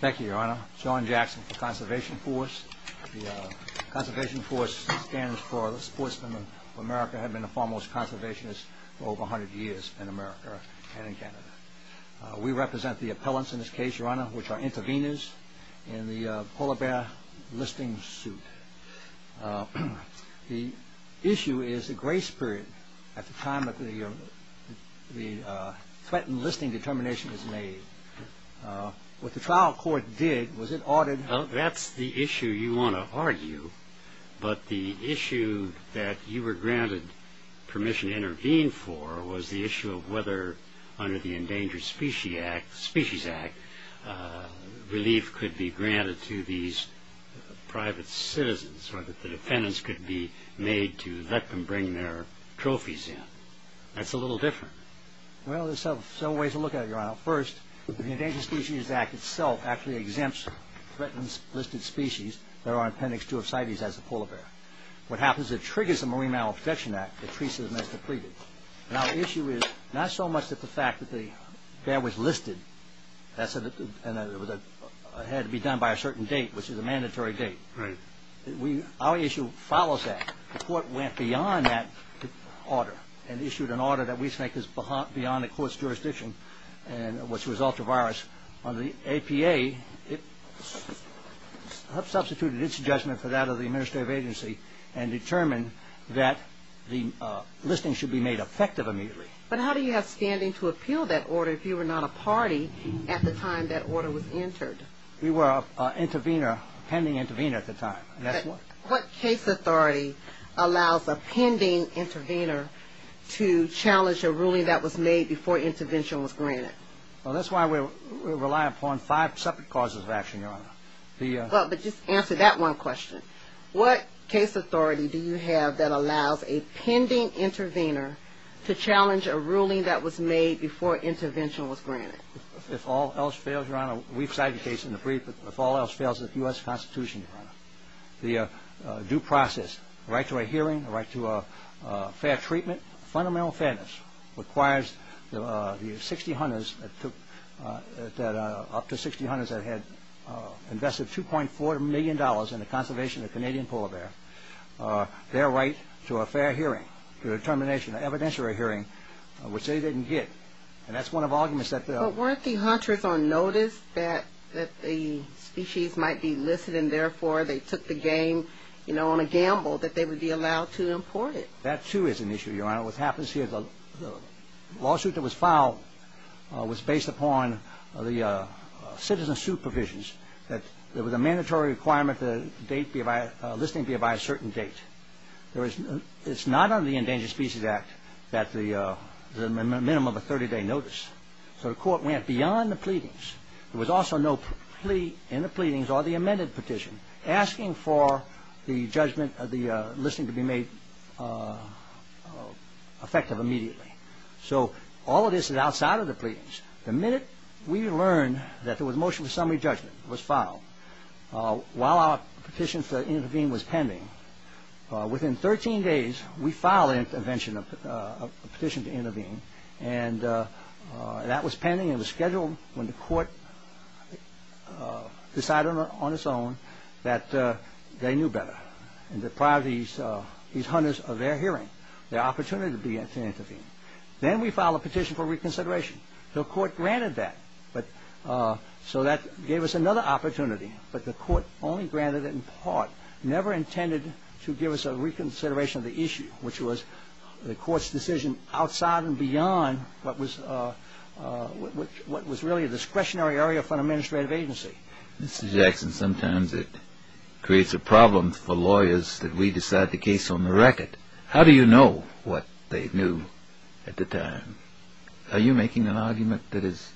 Thank you, Your Honor. John Jackson for Conservation Force. The Conservation Force stands for the sportsmen of America who have been the foremost conservationists for over 100 years in America and in Canada. We represent the appellants in this case, Your Honor, which are intervenors in the polar bear listing suit. The issue is the grace period at the time that the threatened listing determination is made. What the trial court did was it ordered... Well, that's the issue you want to argue, but the issue that you were granted permission to intervene for was the issue of whether under the Endangered Species Act relief could be granted to these private citizens or that the defendants could be made to let them bring their trophies in. That's a little different. Well, there's several ways to look at it, Your Honor. First, the Endangered Species Act itself actually exempts threatened listed species that are appendix 2 of CITES as the polar bear. What happens is it triggers the Marine Mammal Protection Act. It treats them as depleted. Now, the issue is not so much that the fact that the bear was listed and that it had to be done by a certain date, which is a mandatory date. Our issue follows that. The court went beyond that order and issued an order that we take as beyond the court's jurisdiction, which was ultra-virus. The APA substituted its judgment for that of the administrative agency and determined that the listing should be made effective immediately. But how do you have standing to appeal that order if you were not a party at the time that order was entered? We were a pending intervener at the time. What case authority allows a pending intervener to challenge a ruling that was made before intervention was granted? Well, that's why we rely upon five separate causes of action, Your Honor. Well, but just answer that one question. What case authority do you have that allows a pending intervener to challenge a ruling that was made before intervention was granted? If all else fails, Your Honor, we've cited the case in the brief, if all else fails, it's the U.S. Constitution, Your Honor. The due process, the right to a hearing, the right to a fair treatment, fundamental fairness requires the 60 hunters that took, up to 60 hunters that had invested $2.4 million in the conservation of the Canadian polar bear, their right to a fair hearing, to a determination, an evidentiary hearing, which they didn't get. And that's one of the arguments that they'll... that the species might be listed and, therefore, they took the game, you know, on a gamble that they would be allowed to import it. That, too, is an issue, Your Honor. What happens here, the lawsuit that was filed was based upon the citizen suit provisions that there was a mandatory requirement that a listing be by a certain date. It's not under the Endangered Species Act that there's a minimum of a 30-day notice. So the court went beyond the pleadings. There was also no plea in the pleadings or the amended petition asking for the judgment of the listing to be made effective immediately. So all of this is outside of the pleadings. The minute we learned that there was a motion for summary judgment, it was filed, while our petition to intervene was pending, within 13 days we filed a petition to intervene, and that was pending and was scheduled when the court decided on its own that they knew better. And that prior to these hundreds of their hearing, their opportunity to intervene. Then we filed a petition for reconsideration. The court granted that. So that gave us another opportunity, but the court only granted it in part, never intended to give us a reconsideration of the issue, which was the court's decision outside and beyond what was really a discretionary area for an administrative agency. Mr. Jackson, sometimes it creates a problem for lawyers that we decide the case on the record. How do you know what they knew at the time? Are you making an argument that is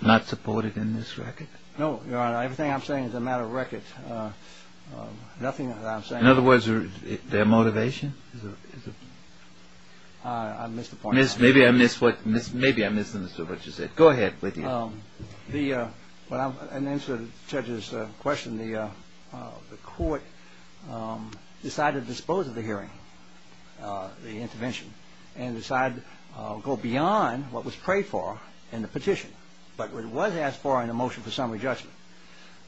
not supported in this record? No, Your Honor. Everything I'm saying is a matter of record. Nothing that I'm saying. In other words, their motivation? I missed the point. Maybe I missed what you said. Go ahead. In answer to the judge's question, the court decided to dispose of the hearing, the intervention, and decided to go beyond what was prayed for in the petition, but what it was asked for in the motion for summary judgment.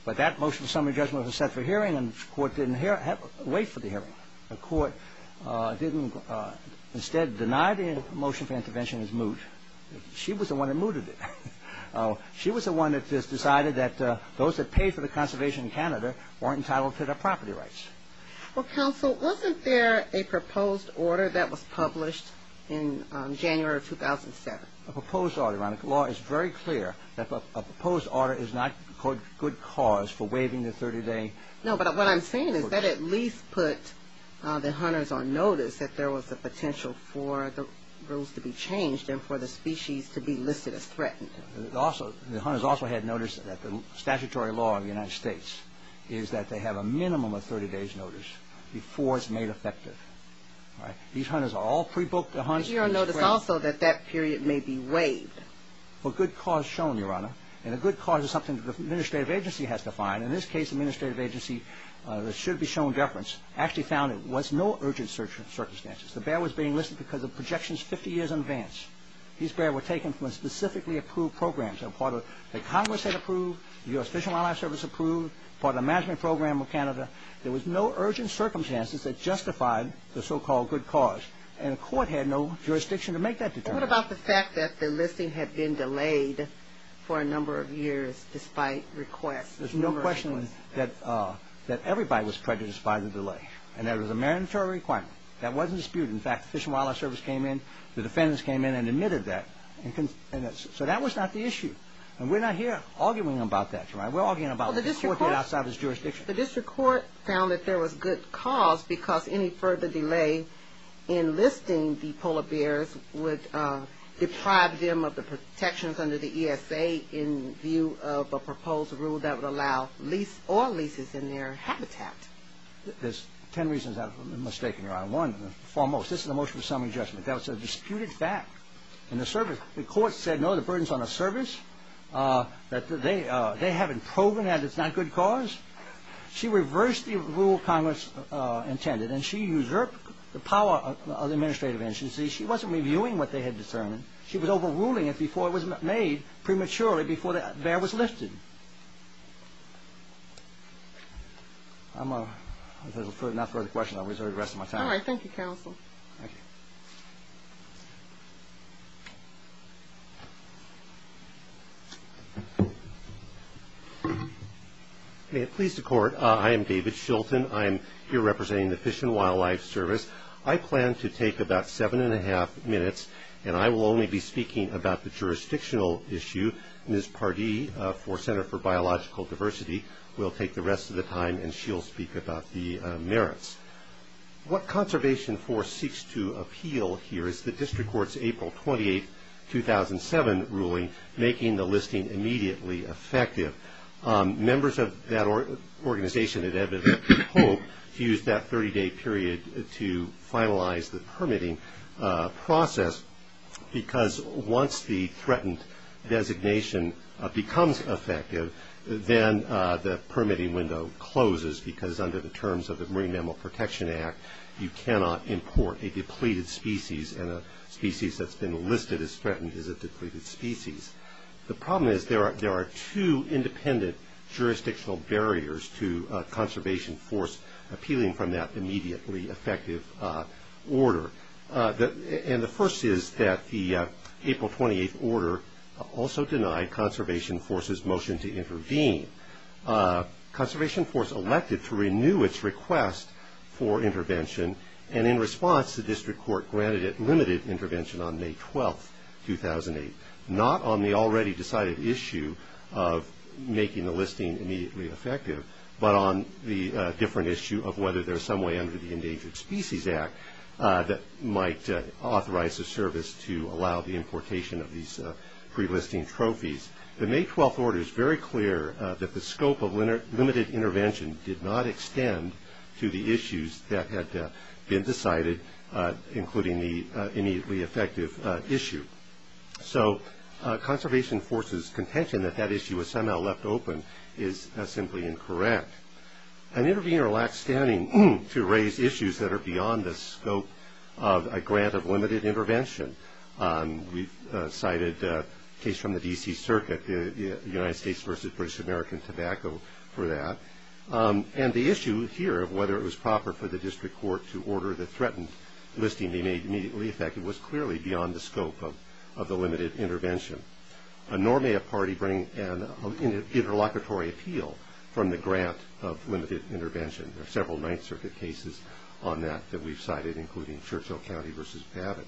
But that motion for summary judgment was set for hearing, and the court didn't wait for the hearing. The court didn't instead deny the motion for intervention as moot. She was the one that mooted it. She was the one that just decided that those that paid for the conservation in Canada weren't entitled to their property rights. Well, counsel, wasn't there a proposed order that was published in January of 2007? A proposed order, Your Honor. The law is very clear that a proposed order is not good cause for waiving the 30-day. No, but what I'm saying is that at least put the hunters on notice that there was a potential for the rules to be changed and for the species to be listed as threatened. The hunters also had notice that the statutory law of the United States is that they have a minimum of 30 days' notice before it's made effective. These hunters are all pre-booked to hunt. Does your notice also that that period may be waived? Well, good cause is shown, Your Honor, and a good cause is something that the administrative agency has to find. In this case, the administrative agency, there should be shown deference, actually found there was no urgent circumstances. The bear was being listed because of projections 50 years in advance. These bears were taken from specifically approved programs. They were part of the Congress that approved, the U.S. Fish and Wildlife Service approved, part of the Management Program of Canada. There was no urgent circumstances that justified the so-called good cause, and the court had no jurisdiction to make that determination. What about the fact that the listing had been delayed for a number of years despite requests? There's no question that everybody was prejudiced by the delay, and that it was a mandatory requirement. That wasn't disputed. In fact, the Fish and Wildlife Service came in. The defendants came in and admitted that. So that was not the issue, and we're not here arguing about that, Your Honor. We're arguing about what the court did outside of its jurisdiction. The district court found that there was good cause because any further delay in listing the polar bears would deprive them of the protections under the ESA in view of a proposed rule that would allow lease or leases in their habitat. There's ten reasons I was mistaken, Your Honor. One, foremost, this is a motion for summary judgment. That was a disputed fact in the service. The court said, no, the burden's on the service. They haven't proven that it's not good cause. She reversed the rule Congress intended, and she usurped the power of the administrative agency. She wasn't reviewing what they had determined. She was overruling it before it was made prematurely, before the bear was lifted. If there's no further questions, I'll reserve the rest of my time. All right. Thank you, counsel. Thank you. May it please the court. I am David Shilton. I'm here representing the Fish and Wildlife Service. I plan to take about seven and a half minutes, and I will only be speaking about the jurisdictional issue. Ms. Pardee for Center for Biological Diversity will take the rest of the time, and she'll speak about the merits. What Conservation Force seeks to appeal here is the district court's April 28, 2007, ruling making the listing immediately effective. Members of that organization at Edmund Hope used that 30-day period to finalize the permitting process, because once the threatened designation becomes effective, then the permitting window closes because under the terms of the Marine Mammal Protection Act, you cannot import a depleted species, and a species that's been listed as threatened is a depleted species. The problem is there are two independent jurisdictional barriers to Conservation Force appealing from that immediately effective order. And the first is that the April 28 order also denied Conservation Force's motion to intervene. Conservation Force elected to renew its request for intervention, and in response the district court granted it limited intervention on May 12, 2008, not on the already decided issue of making the listing immediately effective, but on the different issue of whether there's some way under the Endangered Species Act that might authorize a service to allow the importation of these pre-listing trophies. The May 12 order is very clear that the scope of limited intervention did not extend to the issues that had been decided, including the immediately effective issue. So Conservation Force's contention that that issue was somehow left open is simply incorrect. An intervener lacks standing to raise issues that are beyond the scope of a grant of limited intervention. We've cited a case from the D.C. Circuit, United States versus British American Tobacco, for that. And the issue here of whether it was proper for the district court to order the threatened listing immediately effective was clearly beyond the scope of the limited intervention, nor may a party bring an interlocutory appeal from the grant of limited intervention. There are several Ninth Circuit cases on that that we've cited, including Churchill County versus Babbitt.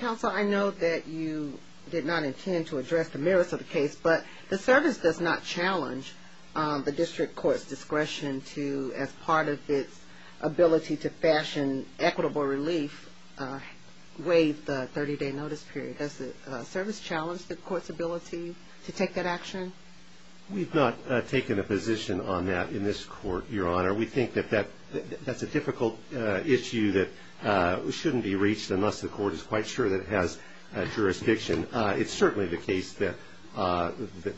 Counsel, I know that you did not intend to address the merits of the case, but the service does not challenge the district court's discretion to, as part of its ability to fashion equitable relief, waive the 30-day notice period. Does the service challenge the court's ability to take that action? We've not taken a position on that in this court, Your Honor. We think that that's a difficult issue that shouldn't be reached unless the court is quite sure that it has jurisdiction. It's certainly the case that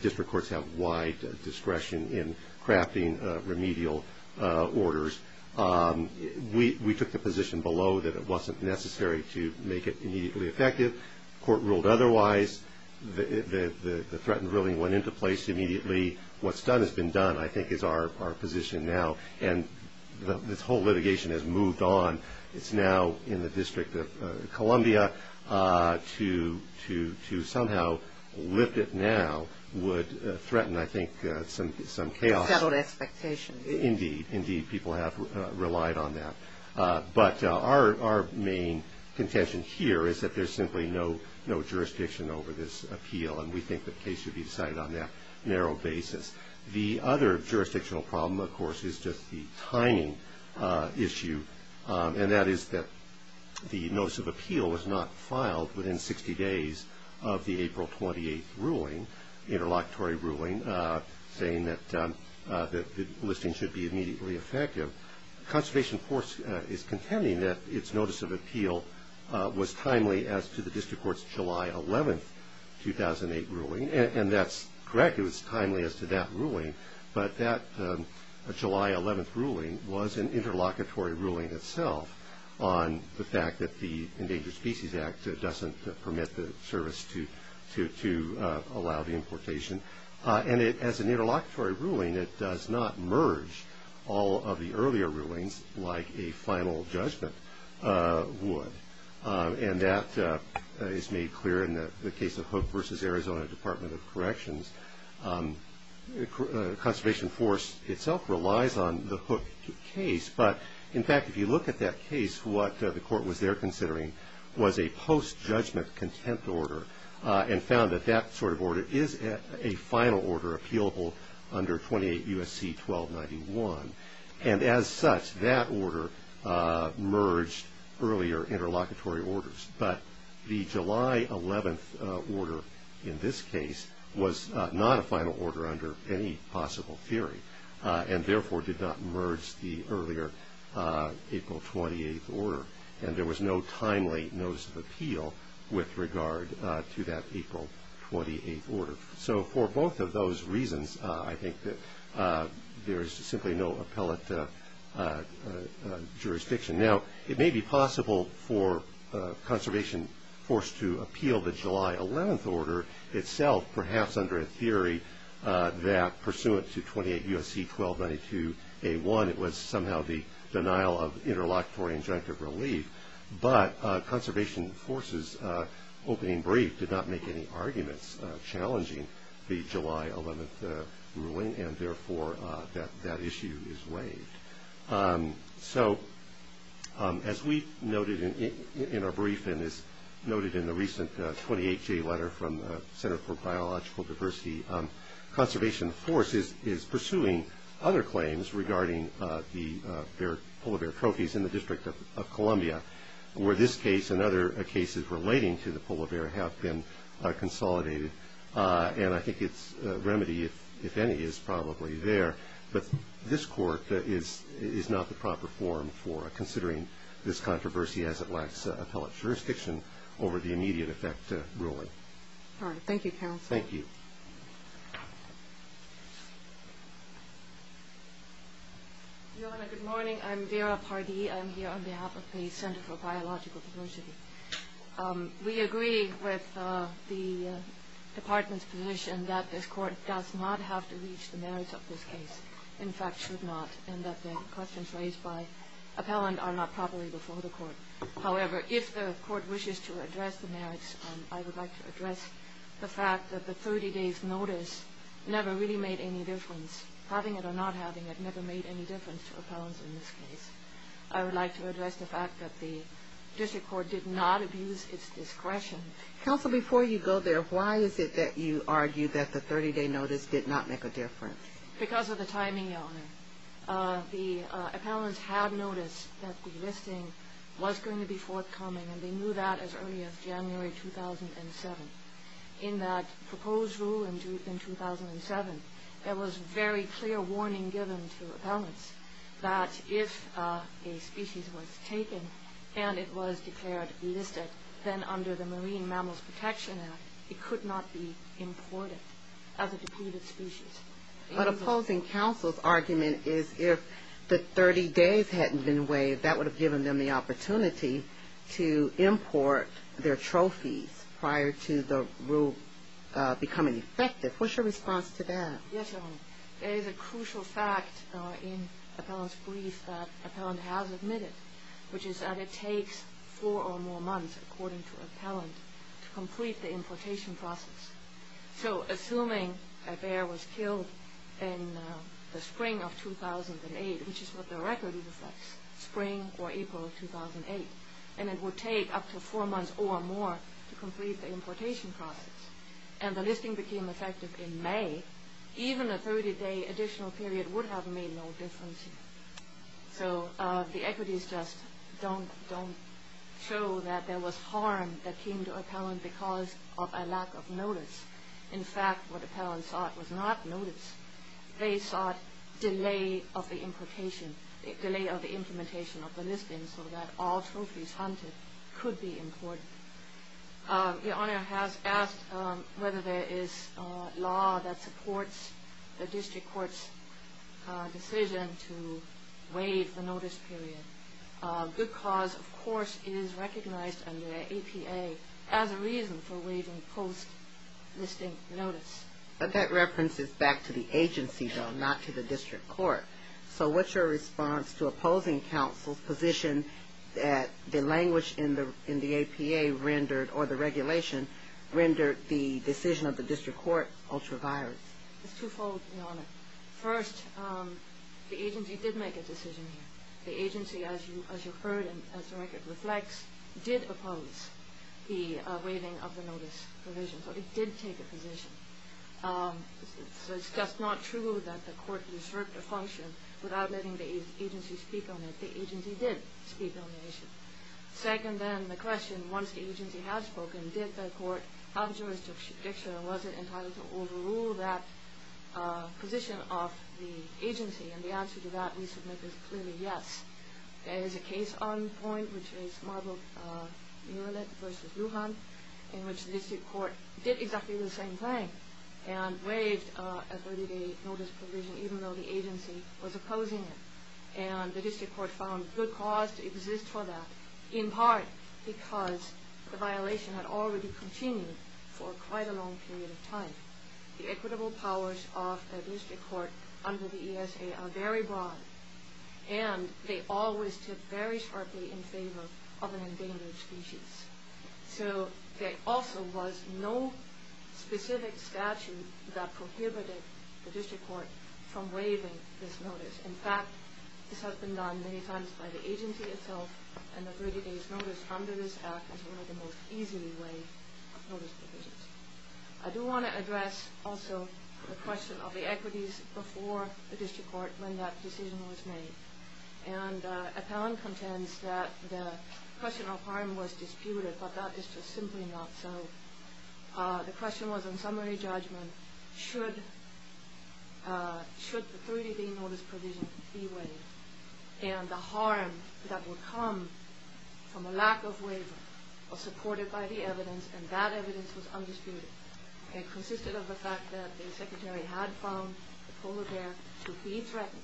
district courts have wide discretion in crafting remedial orders. We took the position below that it wasn't necessary to make it immediately effective. The court ruled otherwise. The threatened ruling went into place immediately. What's done has been done, I think, is our position now. And this whole litigation has moved on. It's now in the District of Columbia to somehow lift it now would threaten, I think, some chaos. Settled expectations. Indeed, indeed. People have relied on that. But our main contention here is that there's simply no jurisdiction over this appeal, and we think the case should be decided on that narrow basis. The other jurisdictional problem, of course, is just the timing issue, and that is that the notice of appeal was not filed within 60 days of the April 28th ruling, interlocutory ruling, saying that the listing should be immediately effective. Conservation, of course, is contending that its notice of appeal was timely as to the district court's July 11th, 2008, ruling. And that's correct. It was timely as to that ruling. But that July 11th ruling was an interlocutory ruling itself on the fact that the Endangered Species Act doesn't permit the service to allow the importation. And as an interlocutory ruling, it does not merge all of the earlier rulings like a final judgment would. And that is made clear in the case of Hook v. Arizona Department of Corrections. Conservation Force itself relies on the Hook case. But, in fact, if you look at that case, what the court was there considering was a post-judgment content order and found that that sort of order is a final order appealable under 28 U.S.C. 1291. And as such, that order merged earlier interlocutory orders. But the July 11th order in this case was not a final order under any possible theory and therefore did not merge the earlier April 28th order. And there was no timely notice of appeal with regard to that April 28th order. So for both of those reasons, I think that there is simply no appellate jurisdiction. Now, it may be possible for Conservation Force to appeal the July 11th order itself, perhaps under a theory that pursuant to 28 U.S.C. 1292 A.1, it was somehow the denial of interlocutory injunctive relief. But Conservation Force's opening brief did not make any arguments challenging the July 11th ruling and therefore that issue is waived. So, as we noted in our brief and as noted in the recent 28-J letter from the Center for Biological Diversity, Conservation Force is pursuing other claims regarding the polar bear trophies in the District of Columbia, where this case and other cases relating to the polar bear have been consolidated. And I think its remedy, if any, is probably there. But this Court is not the proper forum for considering this controversy as it lacks appellate jurisdiction over the immediate effect ruling. All right. Thank you, Counsel. Thank you. Your Honor, good morning. I'm Vera Pardee. I'm here on behalf of the Center for Biological Diversity. We agree with the Department's position that this Court does not have to reach the merits of this case, in fact should not, and that the questions raised by appellant are not properly before the Court. However, if the Court wishes to address the merits, I would like to address the fact that the 30-day's notice never really made any difference. Having it or not having it never made any difference to appellants in this case. I would like to address the fact that the District Court did not abuse its discretion. Counsel, before you go there, why is it that you argue that the 30-day notice did not make a difference? Because of the timing, Your Honor. The appellants had noticed that the listing was going to be forthcoming, and they knew that as early as January 2007. In that proposed rule in 2007, there was very clear warning given to appellants that if a species was taken and it was declared listed, then under the Marine Mammals Protection Act, it could not be imported as a depleted species. But opposing counsel's argument is if the 30 days hadn't been waived, that would have given them the opportunity to import their trophies prior to the rule becoming effective. What's your response to that? Yes, Your Honor. There is a crucial fact in appellant's brief that appellant has admitted, which is that it takes four or more months, according to appellant, to complete the importation process. So assuming a bear was killed in the spring of 2008, which is what the record reflects, spring or April 2008, and it would take up to four months or more to complete the importation process, and the listing became effective in May, even a 30-day additional period would have made no difference. So the equities just don't show that there was harm that came to appellant because of a lack of notice. In fact, what appellant sought was not notice. They sought delay of the implementation of the listing so that all trophies hunted could be imported. Your Honor has asked whether there is law that supports the district court's decision to waive the notice period. Good Cause, of course, is recognized under APA as a reason for waiving post-listing notice. But that reference is back to the agency, though, not to the district court. So what's your response to opposing counsel's position that the language in the APA rendered or the regulation rendered the decision of the district court ultra-virus? It's twofold, Your Honor. First, the agency did make a decision here. The agency, as you heard and as the record reflects, did oppose the waiving of the notice provision, but it did take a position. So it's just not true that the court usurped a function without letting the agency speak on it. The agency did speak on the issue. Second, then, the question, once the agency has spoken, did the court have jurisdiction or was it entitled to overrule that position of the agency? And the answer to that, we submit, is clearly yes. There is a case on point, which is Marble Murlet v. Lujan, in which the district court did exactly the same thing and waived a 30-day notice provision even though the agency was opposing it. And the district court found Good Cause to exist for that, in part because the violation had already continued for quite a long period of time. The equitable powers of the district court under the ESA are very broad, and they always tip very sharply in favor of an endangered species. So there also was no specific statute that prohibited the district court from waiving this notice. In fact, this has been done many times by the agency itself, and the 30-day notice under this Act is one of the most easily waived notice provisions. I do want to address also the question of the equities before the district court when that decision was made. And Appellant contends that the question of harm was disputed, but that is just simply not so. The question was, in summary judgment, should the 30-day notice provision be waived? And the harm that would come from a lack of waiver was supported by the evidence, and that evidence was undisputed. It consisted of the fact that the Secretary had found the kola bear to be threatened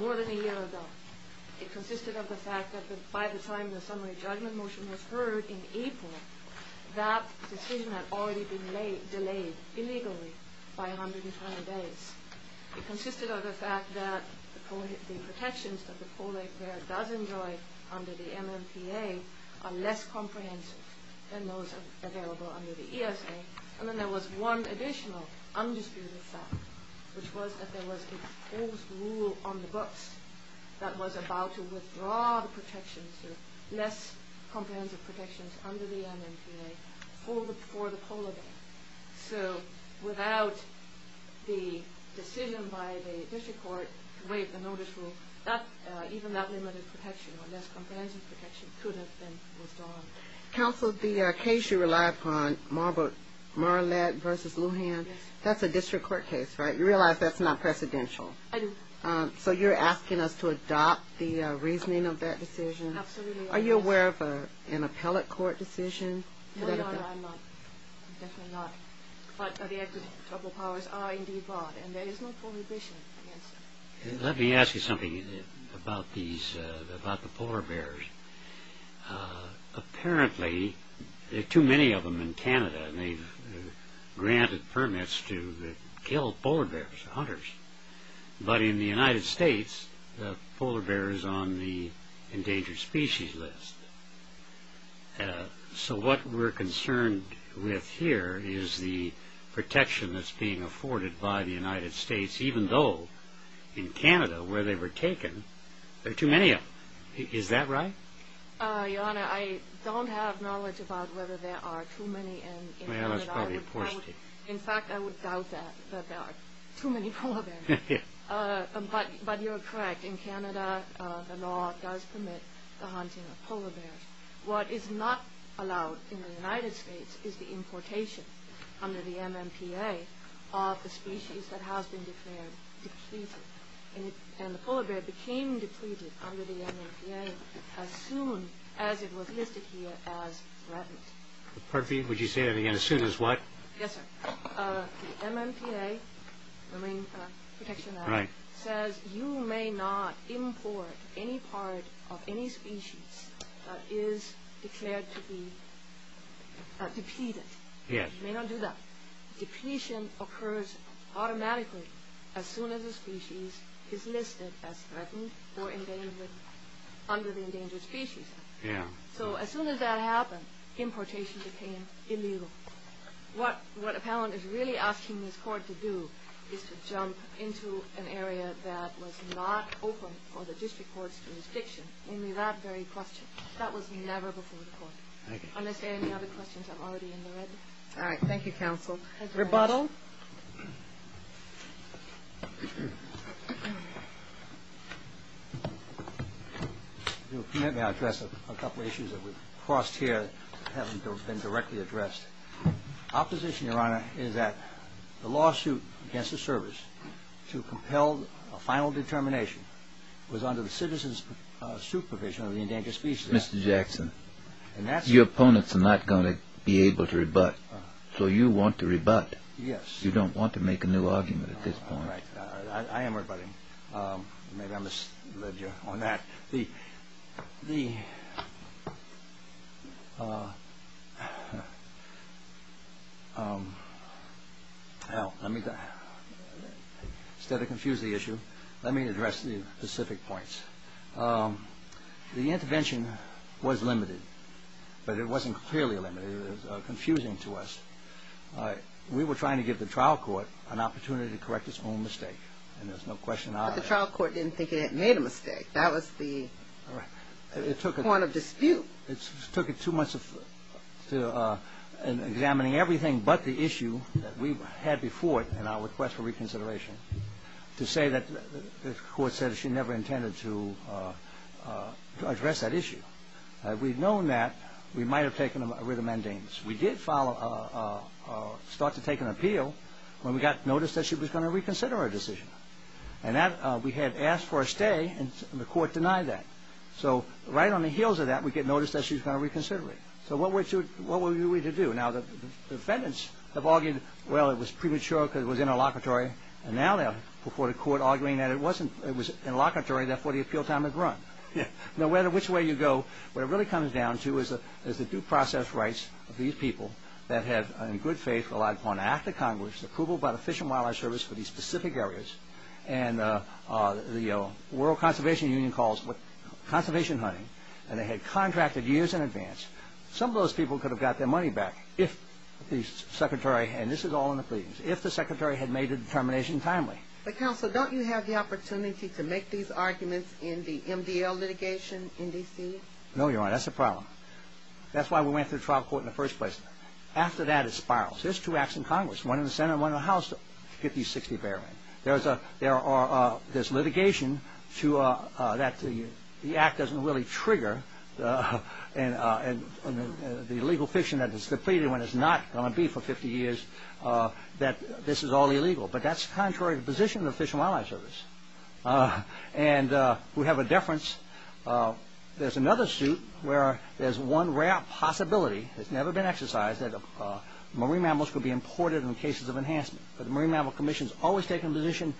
more than a year ago. It consisted of the fact that by the time the summary judgment motion was heard in April, that decision had already been delayed illegally by 120 days. It consisted of the fact that the protections that the kola bear does enjoy under the MMPA are less comprehensive than those available under the ESA. And then there was one additional undisputed fact, which was that there was an imposed rule on the books that was about to withdraw the protections, the less comprehensive protections under the MMPA for the kola bear. So without the decision by the district court to waive the notice rule, even that limited protection or less comprehensive protection could have been withdrawn. Counsel, the case you relied upon, Marlette v. Lujan, that's a district court case, right? You realize that's not precedential? I do. So you're asking us to adopt the reasoning of that decision? Absolutely. Are you aware of an appellate court decision? No, no, no, I'm not. Definitely not. But the executive powers are indeed broad, and there is no prohibition against it. Let me ask you something about the polar bears. Apparently, there are too many of them in Canada, and they've granted permits to kill polar bears, hunters. But in the United States, the polar bear is on the endangered species list. So what we're concerned with here is the protection that's being afforded by the United States, even though in Canada, where they were taken, there are too many of them. Is that right? Your Honor, I don't have knowledge about whether there are too many in Canada. Well, that's probably a poor state. In fact, I would doubt that, that there are too many polar bears. But you're correct. In Canada, the law does permit the hunting of polar bears. What is not allowed in the United States is the importation under the MMPA of the species that has been declared depleted. And the polar bear became depleted under the MMPA as soon as it was listed here as threatened. Would you say that again? As soon as what? Yes, sir. The MMPA, Marine Protection Act, says you may not import any part of any species that is declared to be depleted. You may not do that. Depletion occurs automatically as soon as a species is listed as threatened or endangered under the endangered species. So as soon as that happened, importation became illegal. What Appellant is really asking this Court to do is to jump into an area that was not open for the District Court's jurisdiction, only that very question. That was never before the Court. Unless there are any other questions, I'm already in the red. All right. Thank you, Counsel. Rebuttal. If you'll permit me, I'll address a couple of issues that we've crossed here that haven't been directly addressed. Our position, Your Honor, is that the lawsuit against the Service to compel a final determination was under the citizen's supervision of the endangered species. Mr. Jackson, your opponents are not going to be able to rebut. So you want to rebut. Yes. You don't want to make a new argument at this point. I am rebutting. Maybe I misled you on that. Instead of confuse the issue, let me address the specific points. The intervention was limited, but it wasn't clearly limited. It was confusing to us. We were trying to give the trial court an opportunity to correct its own mistake, and there's no question about that. But the trial court didn't think it had made a mistake. That was the point of dispute. It took it two months of examining everything but the issue that we had before it in our request for reconsideration to say that the court said she never intended to address that issue. We've known that. We might have taken a writ of mandamus. We did start to take an appeal when we got notice that she was going to reconsider her decision. And we had asked for a stay, and the court denied that. So right on the heels of that, we get notice that she's going to reconsider it. So what were we to do? Now, the defendants have argued, well, it was premature because it was interlocutory, and now they're before the court arguing that it was interlocutory, therefore the appeal time is run. Now, which way you go, what it really comes down to is the due process rights of these people that have, in good faith, relied upon an act of Congress, approval by the Fish and Wildlife Service for these specific areas, and the World Conservation Union calls it conservation hunting, and they had contracted years in advance. Some of those people could have got their money back if the secretary, and this is all in the pleadings, if the secretary had made the determination timely. But, counsel, don't you have the opportunity to make these arguments in the MDL litigation in D.C.? No, Your Honor, that's a problem. That's why we went through trial court in the first place. After that, it spirals. There's two acts in Congress, one in the Senate and one in the House, 50-60, barely. There's litigation that the act doesn't really trigger, and the legal fiction that is completed when it's not going to be for 50 years, that this is all illegal. But that's contrary to the position of the Fish and Wildlife Service. And we have a deference. There's another suit where there's one rare possibility. It's never been exercised that marine mammals could be imported in cases of enhancement, but the Marine Mammal Commission has always taken the position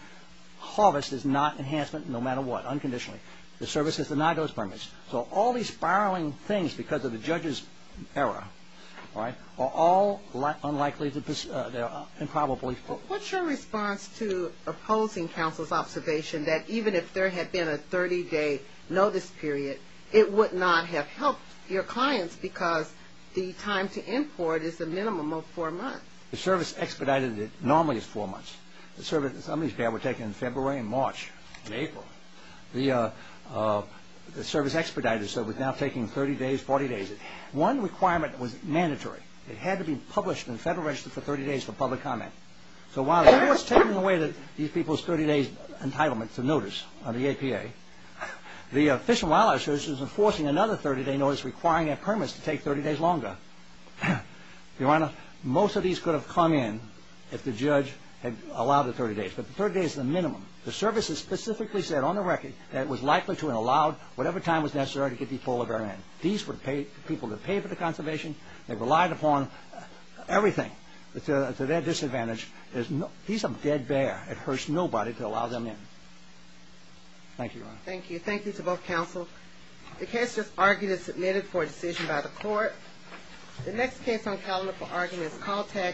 harvest is not enhancement no matter what, unconditionally. The service has denied those permits. So all these spiraling things because of the judge's error are all unlikely and improbable. What's your response to opposing counsel's observation that even if there had been a 30-day notice period, it would not have helped your clients because the time to import is the minimum of four months? The service expedited it normally as four months. Some of these permits were taken in February and March and April. The service expedited it so it was now taking 30 days, 40 days. One requirement was mandatory. It had to be published in the Federal Register for 30 days for public comment. So while it was taking away these people's 30-day entitlement to notice under the APA, the Fish and Wildlife Service was enforcing another 30-day notice requiring their permits to take 30 days longer. Your Honor, most of these could have come in if the judge had allowed the 30 days. But the 30 days is the minimum. The service has specifically said on the record that it was likely to and allowed whatever time was necessary to get these polar bears in. These were people that paid for the conservation. They relied upon everything to their disadvantage. He's a dead bear. It hurts nobody to allow them in. Thank you, Your Honor. Thank you. Thank you to both counsel. The case just argued is submitted for a decision by the court. The next case on calendar for argument is Caltech.